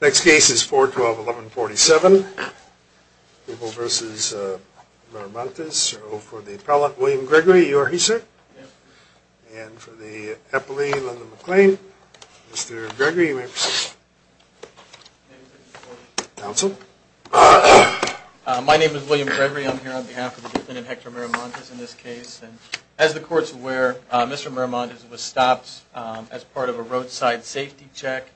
Next case is 4-12-11-47. Rubel v. Miramontes. For the appellant, William Gregory. Are you here, sir? And for the appellee, Lyndon McClain. Mr. Gregory, you may proceed. Counsel. My name is William Gregory. I'm here on behalf of the defendant, Hector Miramontes, in this case. As the court's aware, Mr. Miramontes was stopped as part of a roadside safety check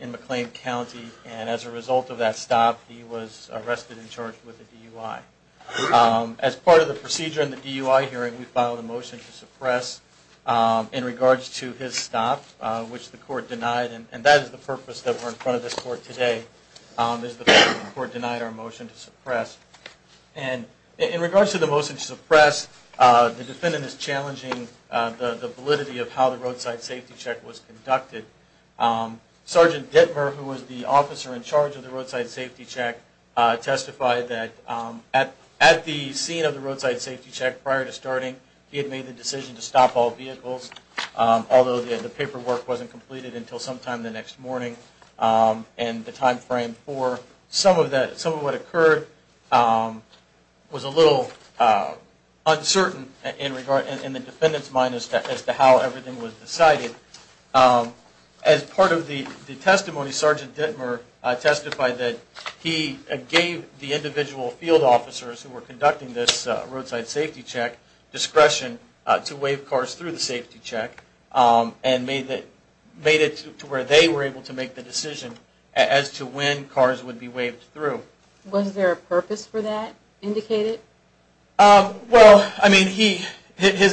in McLean County. And as a result of that stop, he was arrested and charged with a DUI. As part of the procedure in the DUI hearing, we filed a motion to suppress in regards to his stop, which the court denied. And that is the purpose that we're in front of this court today, is the court denied our motion to suppress. And in regards to the motion to suppress, the defendant is challenging the validity of how the roadside safety check was conducted. Sergeant Dittmer, who was the officer in charge of the roadside safety check, testified that at the scene of the roadside safety check prior to starting, he had made the decision to stop all vehicles, although the paperwork wasn't completed until sometime the next morning. And the timeframe for some of what occurred was a little uncertain in the defendant's mind as to how everything was decided. As part of the testimony, Sergeant Dittmer testified that he gave the individual field officers who were conducting this roadside safety check discretion to waive cars through the safety check and made it to where they were able to make the decision as to when cars would be waived through. Was there a purpose for that indicated? His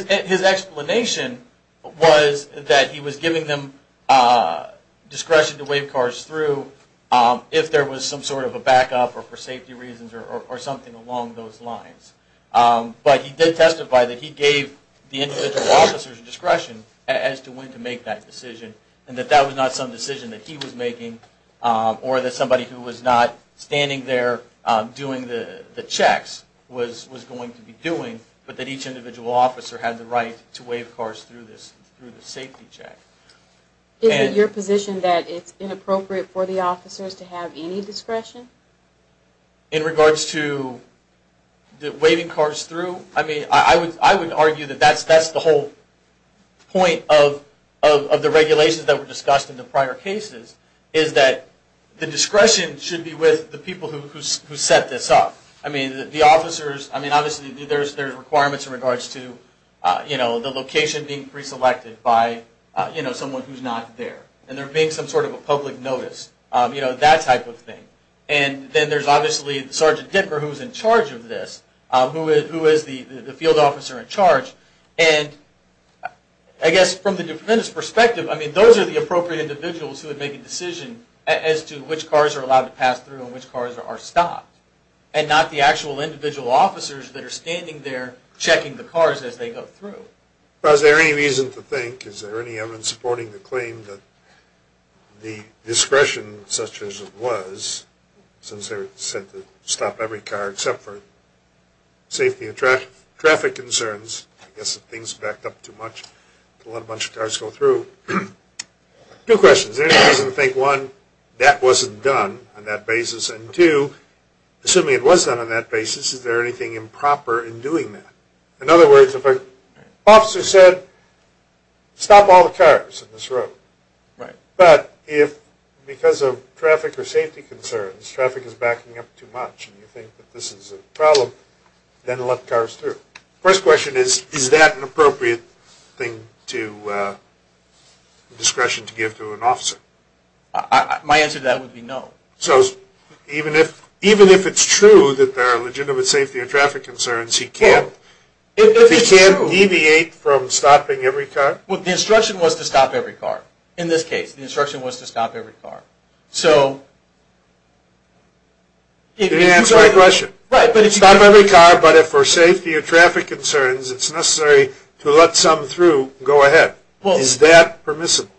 explanation was that he was giving them discretion to waive cars through if there was some sort of a backup or for safety reasons or something along those lines. But he did testify that he gave the individual officers discretion as to when to make that decision and that that was not some decision that he was making or that somebody who was not standing there doing the checks was going to be doing, but that each individual officer had the right to waive cars through the safety check. Is it your position that it's inappropriate for the officers to have any discretion? In regards to waiving cars through, I mean, I would argue that that's the whole point of the regulations that were discussed in the prior cases, is that the discretion should be with the people who set this up. I mean, obviously there's requirements in regards to the location being preselected by someone who's not there and there being some sort of a public notice, you know, that type of thing. And then there's obviously Sergeant Dicker who's in charge of this, who is the field officer in charge. And I guess from the defendant's perspective, I mean, those are the appropriate individuals who would make a decision as to which cars are allowed to pass through and which cars are stopped and not the actual individual officers that are standing there checking the cars as they go through. Is there any reason to think, is there any evidence supporting the claim that the discretion such as it was, since they were said to stop every car except for safety and traffic concerns, I guess if things backed up too much to let a bunch of cars go through. Two questions. Is there any reason to think, one, that wasn't done on that basis, and two, assuming it was done on that basis, is there anything improper in doing that? In other words, if an officer said, stop all the cars on this road, but if because of traffic or safety concerns, traffic is backing up too much and you think that this is a problem, then let the cars through. First question is, is that an appropriate thing to, discretion to give to an officer? My answer to that would be no. So, even if it's true that there are legitimate safety or traffic concerns, he can't, he can't deviate from stopping every car? Well, the instruction was to stop every car. In this case, the instruction was to stop every car. So... You didn't answer my question. Stop every car, but if for safety or traffic concerns, it's necessary to let some through, go ahead. Is that permissible?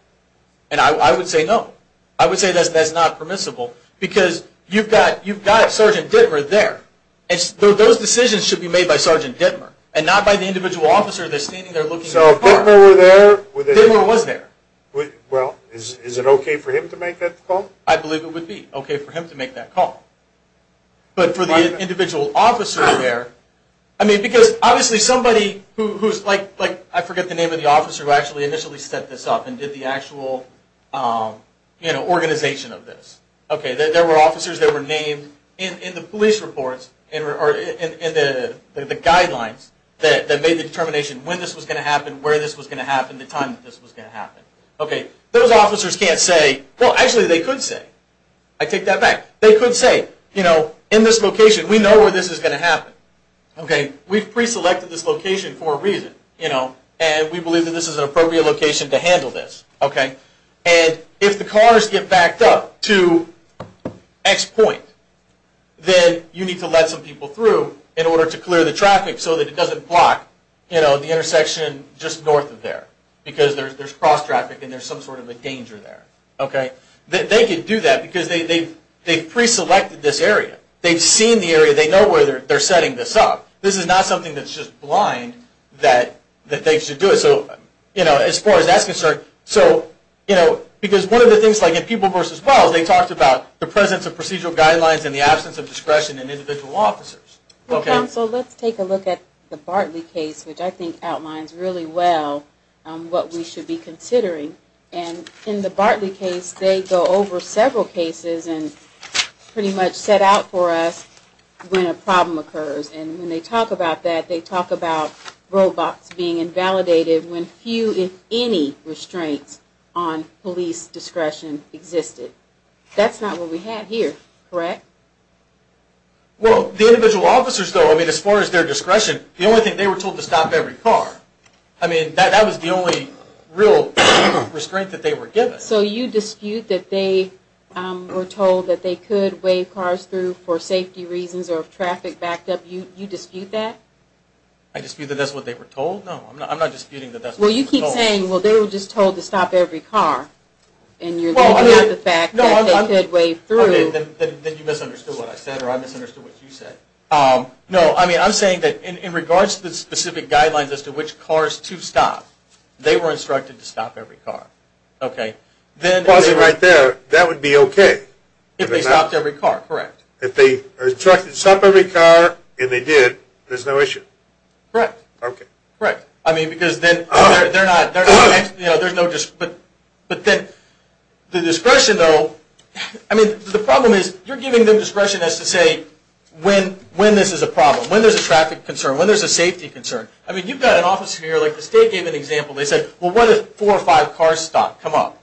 And I would say no. I would say that's not permissible, because you've got Sergeant Dittmer there. Those decisions should be made by Sergeant Dittmer, and not by the individual officer that's standing there looking at the car. So, if Dittmer were there... Dittmer was there. Well, is it okay for him to make that call? I believe it would be okay for him to make that call. But for the individual officer there... I mean, because obviously somebody who's like, I forget the name of the officer who actually initially set this up and did the actual organization of this. There were officers that were named in the police reports, or in the guidelines that made the determination when this was going to happen, where this was going to happen, the time that this was going to happen. Those officers can't say... Well, actually, they could say... I take that back. They could say, you know, in this location, we know where this is going to happen. We've pre-selected this location for a reason. And we believe that this is an appropriate location to handle this. And if the cars get backed up to X point, then you need to let some people through in order to clear the traffic so that it doesn't block the intersection just north of there. Because there's cross-traffic and there's some sort of a danger there. They can do that because they've pre-selected this area. They've seen the area. They know where they're setting this up. This is not something that's just blind that they should do it. As far as that's concerned... Because one of the things, like in People vs. Wells, they talked about the presence of procedural guidelines and the absence of discretion in individual officers. Well, counsel, let's take a look at the Bartley case, which I think outlines really well what we should be considering. And in the Bartley case, they go over several cases and pretty much set out for us when a problem that they talk about roadblocks being invalidated when few, if any, restraints on police discretion existed. That's not what we have here, correct? Well, the individual officers, though, as far as their discretion, the only thing they were told to stop every car. I mean, that was the only real restraint that they were given. So you dispute that they were told that they could wave cars through for safety reasons or traffic backup? You dispute that? I dispute that that's what they were told? No, I'm not disputing that that's what they were told. Well, you keep saying, well, they were just told to stop every car. And you're looking at the fact that they could wave through. Then you misunderstood what I said or I misunderstood what you said. No, I'm saying that in regards to the specific guidelines as to which cars to stop, they were instructed to stop every car. Well, I was right there. That would be okay. If they stopped every car, correct. If they were instructed to stop every car and they did, there's no issue. Correct. But then the discretion, though, I mean, the problem is you're giving them discretion as to say when this is a problem, when there's a traffic concern, when there's a safety concern. I mean, you've got an officer here, like the state gave an example. They said, well, what if four or five cars stop, come up?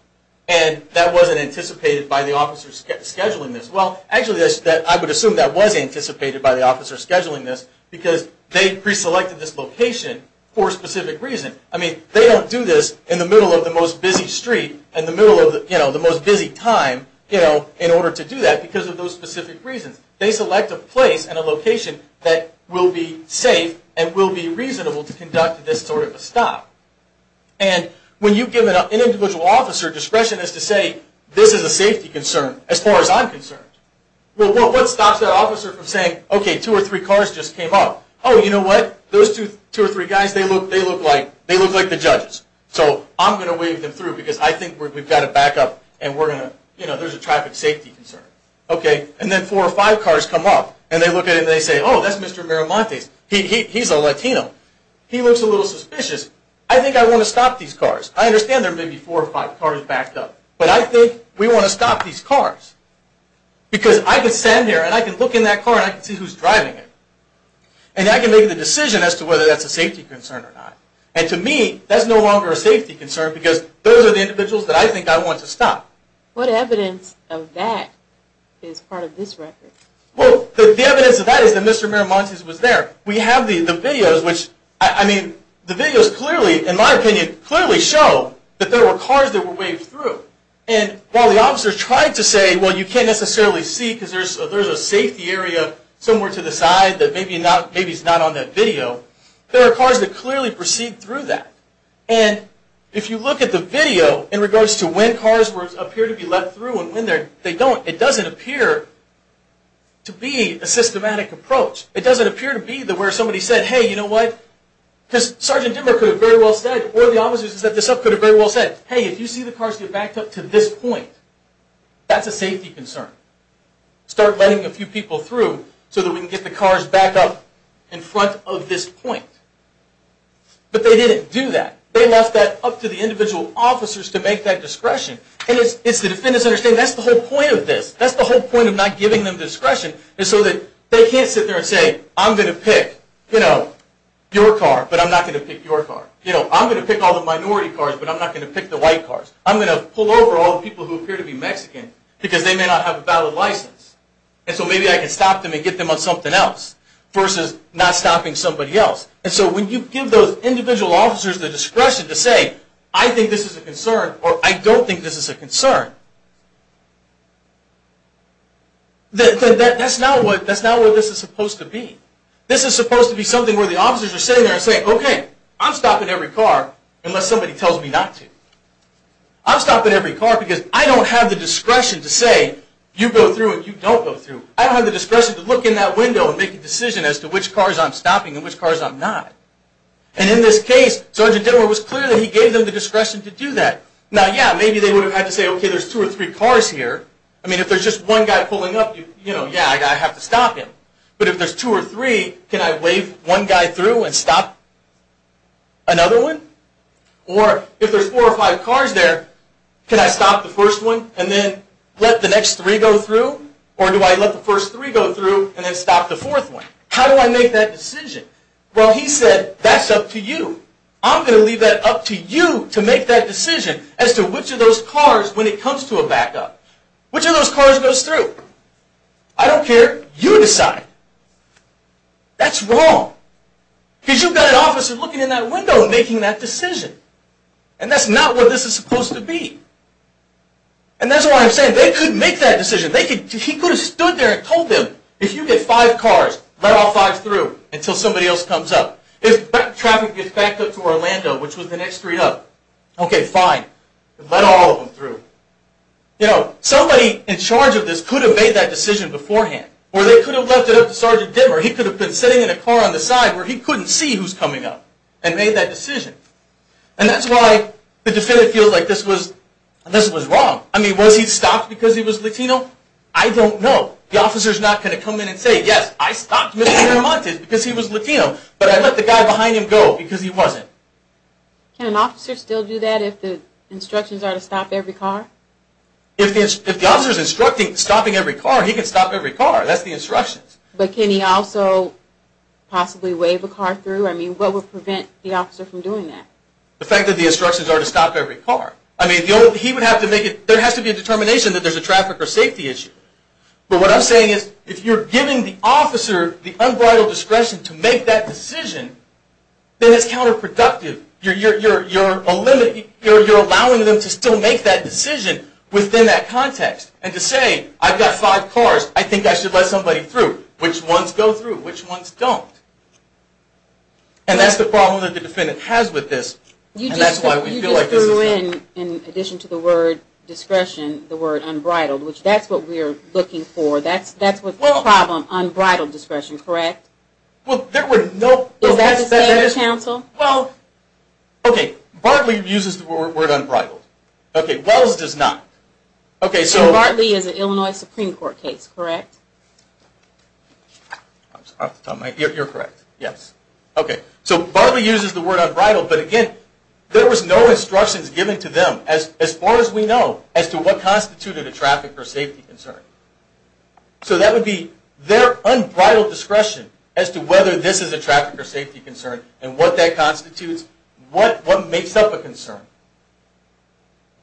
And that wasn't anticipated by the officers scheduling this. Well, actually, I would assume that was anticipated by the officers scheduling this because they preselected this location for a specific reason. I mean, they don't do this in the middle of the most busy street and the middle of the most busy time in order to do that because of those specific reasons. They select a place and a location that will be safe and will be reasonable to conduct this sort of a stop. And when you give an individual officer discretion as to say this is a safety concern as far as I'm concerned, well, what stops that officer from saying, okay, two or three cars just came up. Oh, you know what? Those two or three guys, they look like the judges. So I'm going to wave them through because I think we've got to back up and we're going to, you know, there's a traffic safety concern. Okay. And then four or five cars come up and they look at it and they say, oh, that's Mr. Miramontes. He's a Latino. He looks a little suspicious. I think I want to stop these cars. I understand there may be four or five cars backed up, but I think we want to stop these cars because I can stand here and I can look in that car and I can see who's driving it and I can make the decision as to whether that's a safety concern or not. And to me, that's no longer a safety concern because those are the individuals that I think I want to stop. What evidence of that is part of this record? Well, the evidence of that is that Mr. Miramontes was there. We have the videos which, I mean, the videos clearly, in my opinion, clearly show that there were cars that were waved through. And while the officers tried to say, well, you can't necessarily see because there's a safety area somewhere to the side that maybe is not on that video, there are cars that clearly proceed through that. And if you look at the video in regards to when cars appear to be let through and when they don't, it doesn't appear to be a systematic approach. It doesn't appear to be where somebody said, hey, you know what, because Sergeant Dimmer could have very well said, or the officers who set this up could have very well said, hey, if you see the cars get backed up to this point, that's a safety concern. Start letting a few people through so that we can get the cars backed up in front of this point. But they didn't do that. They left that up to the individual officers to make that discretion. And it's the defendants understanding that's the whole point of this. That's the whole point of not giving them discretion is so that they can't sit there and say, I'm going to pick your car, but I'm not going to pick your car. I'm going to pick all the minority cars, but I'm not going to pick the white cars. I'm going to pull over all the people who appear to be Mexican because they may not have a valid license. And so maybe I can stop them and get them on something else versus not stopping somebody else. And so when you give those individual officers the discretion to say, I think this is a concern, or I don't think this is a concern, that's not what this is supposed to be. This is supposed to be something where the officers are sitting there and saying, OK, I'm stopping every car unless somebody tells me not to. I'm stopping every car because I don't have the discretion to say you go through and you don't go through. I don't have the discretion to look in that window and make a decision as to which cars I'm stopping and which cars I'm not. And in this case, Sergeant Dittler was clear that he gave them the discretion to do that. Now, yeah, maybe they would have had to say, OK, there's two or three cars here. I mean, if there's just one guy pulling up, yeah, I have to stop him. But if there's two or three, can I wave one guy through and stop another one? Or if there's four or five cars there, can I stop the first one and then let the next three go through? Or do I let the first three go through and then stop the fourth one? How do I make that decision? Well, he said, that's up to you. I'm going to leave that up to you to make that decision as to which of those cars, when it comes to a backup, which of those cars goes through. I don't care. You decide. That's wrong. Because you've got an officer looking in that window and making that decision. And that's not what this is supposed to be. And that's why I'm saying they could make that decision. He could have stood there and told them, if you get five cars, let all five through until somebody else comes up. If traffic gets backed up to Orlando, which was the next street up, OK, fine. Let all of them through. You know, somebody in charge of this could have made that decision beforehand. Or they could have left it up to Sergeant Dimmer. He could have been sitting in a car on the side where he couldn't see who's coming up and made that decision. And that's why the defendant feels like this was wrong. I mean, was he stopped because he was Latino? I don't know. The officer's not going to come in and say, yes, I stopped Mr. Miramontes because he was Latino, but I let the guy behind him go because he wasn't. Can an officer still do that if the instructions are to stop every car? If the officer's instructing stopping every car, he can stop every car. That's the instructions. But can he also possibly wave a car through? I mean, what would prevent the officer from doing that? The fact that the instructions are to stop every car. I mean, there has to be a determination that there's a traffic or safety issue. But what I'm saying is, if you're giving the officer the unbridled discretion to make that decision, then it's counterproductive. You're allowing them to still make that decision within that context. And to say, I've got five cars. I think I should let somebody through. Which ones go through? Which ones don't? And that's the problem that the defendant has with this. You just threw in, in addition to the word discretion, the word unbridled, which that's what we're looking for. That's the problem, unbridled discretion, correct? Is that the same as counsel? Bartley uses the word unbridled. Wells does not. So Bartley is an Illinois Supreme Court case, correct? You're correct. So Bartley uses the word unbridled, but again, there was no instructions given to them, as far as we know, as to what constituted a traffic or safety concern. So that would be their unbridled discretion as to whether this is a traffic or safety concern and what that constitutes, what makes up a concern.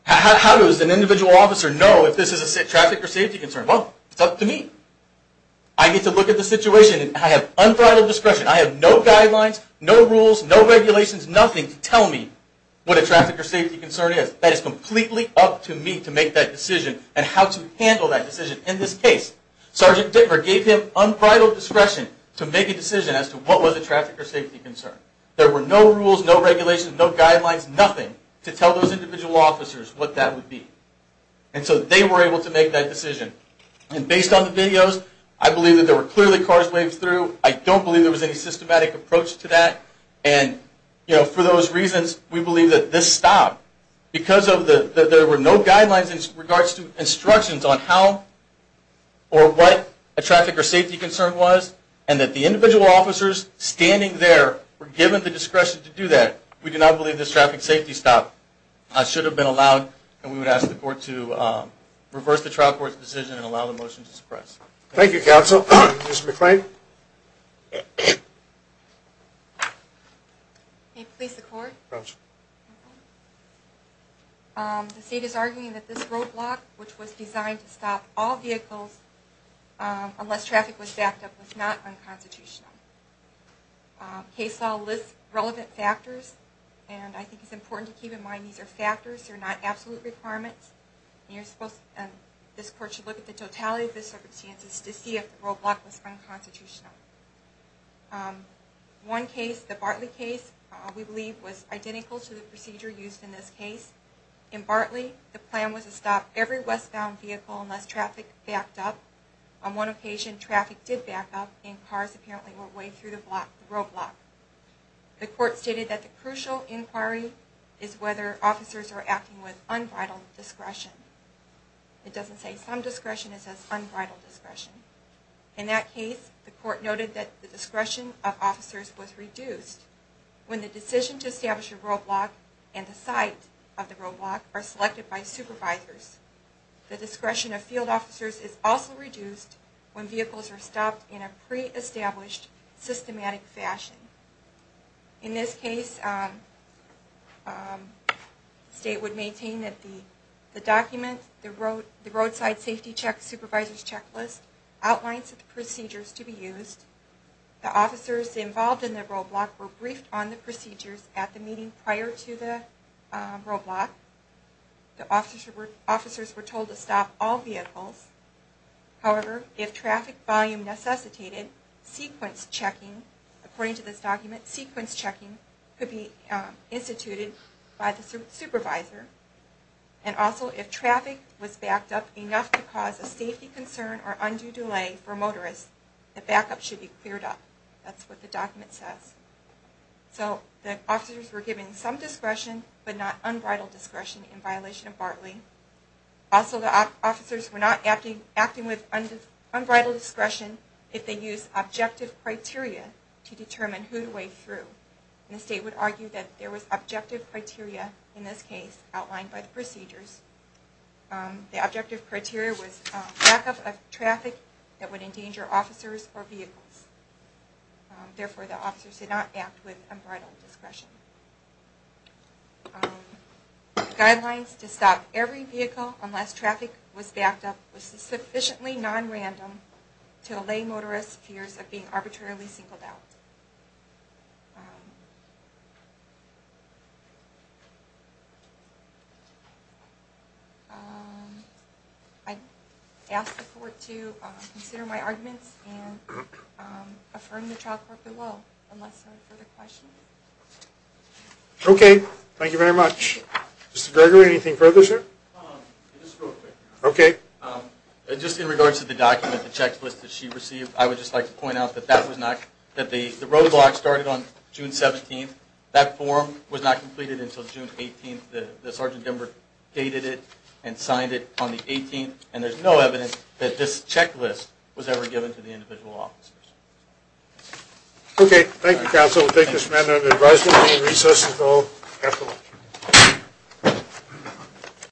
How does an individual officer know if this is a traffic or safety concern? Well, it's up to me. I need to look at the situation and I have unbridled discretion. I have no guidelines, no rules, no regulations, nothing to tell me what a traffic or safety concern is. That is completely up to me to make that decision and how to handle that decision. In this case, Sergeant Dittmer gave him unbridled discretion to make a decision as to what was a traffic or safety concern. There were no rules, no regulations, no guidelines, nothing to tell those individual officers what that would be. And so they were able to make that decision. And based on the videos, I believe that there were clearly cars waved through. I don't believe there was any systematic approach to that. And for those reasons, we believe that this stopped because there were no guidelines in regards to instructions on how or what a traffic or safety concern was and that the individual officers standing there were given the discretion to do that. We do not believe this traffic safety stop should have been allowed and we would ask the court to reverse the trial court's decision and allow the motion to suppress. Thank you, counsel. Ms. McClain. May it please the court? The state is in favor of a roadblock, which was designed to stop all vehicles unless traffic was backed up was not unconstitutional. Case law lists relevant factors and I think it's important to keep in mind these are factors, they're not absolute requirements. This court should look at the totality of the circumstances to see if the roadblock was unconstitutional. One case, the Bartley case, we believe was identical to the procedure used in this case. In Bartley, the plan was to stop every westbound vehicle unless traffic backed up. On one occasion, traffic did back up and cars apparently were way through the roadblock. The court stated that the crucial inquiry is whether officers are acting with unbridled discretion. It doesn't say some discretion, it says unbridled discretion. In that case, the court noted that the discretion of officers was reduced. When the decision to establish a roadblock and the site of the roadblock are selected by supervisors. The discretion of field officers is also reduced when vehicles are stopped in a pre-established systematic fashion. In this case, the state would maintain that the document, the roadside safety check supervisor's checklist outlines the procedures to be used. The officers involved in the roadblock were briefed on how to do the roadblock. The officers were told to stop all vehicles. However, if traffic volume necessitated, sequence checking, according to this document, sequence checking could be instituted by the supervisor. And also, if traffic was backed up enough to cause a safety concern or undue delay for motorists, the backup should be cleared up. That's what the document says. So, the officers were given some discretion, but not unbridled discretion in violation of Bartley. Also, the officers were not acting with unbridled discretion if they used objective criteria to determine who to wade through. The state would argue that there was objective criteria, in this case, outlined by the procedures. The objective criteria was backup of traffic that would endanger officers or vehicles. Therefore, the officers did not act with unbridled discretion. Guidelines to stop every vehicle unless traffic was backed up was sufficiently nonrandom to allay motorists' fears of being arbitrarily singled out. I asked the court to consider my arguments and affirm the child corporate law. Okay, thank you very much. Mr. Gregory, anything further, sir? Just in regards to the document, the checklist that she received, I would just like to point out that the roadblock started on June 17th. That form was not completed until June 18th. The Sergeant Denver dated it and signed it on the 18th, and there's no evidence that a checklist was ever given to the individual officers. Okay, thank you, counsel. We'll take this matter under advisement. We'll recess until after lunch.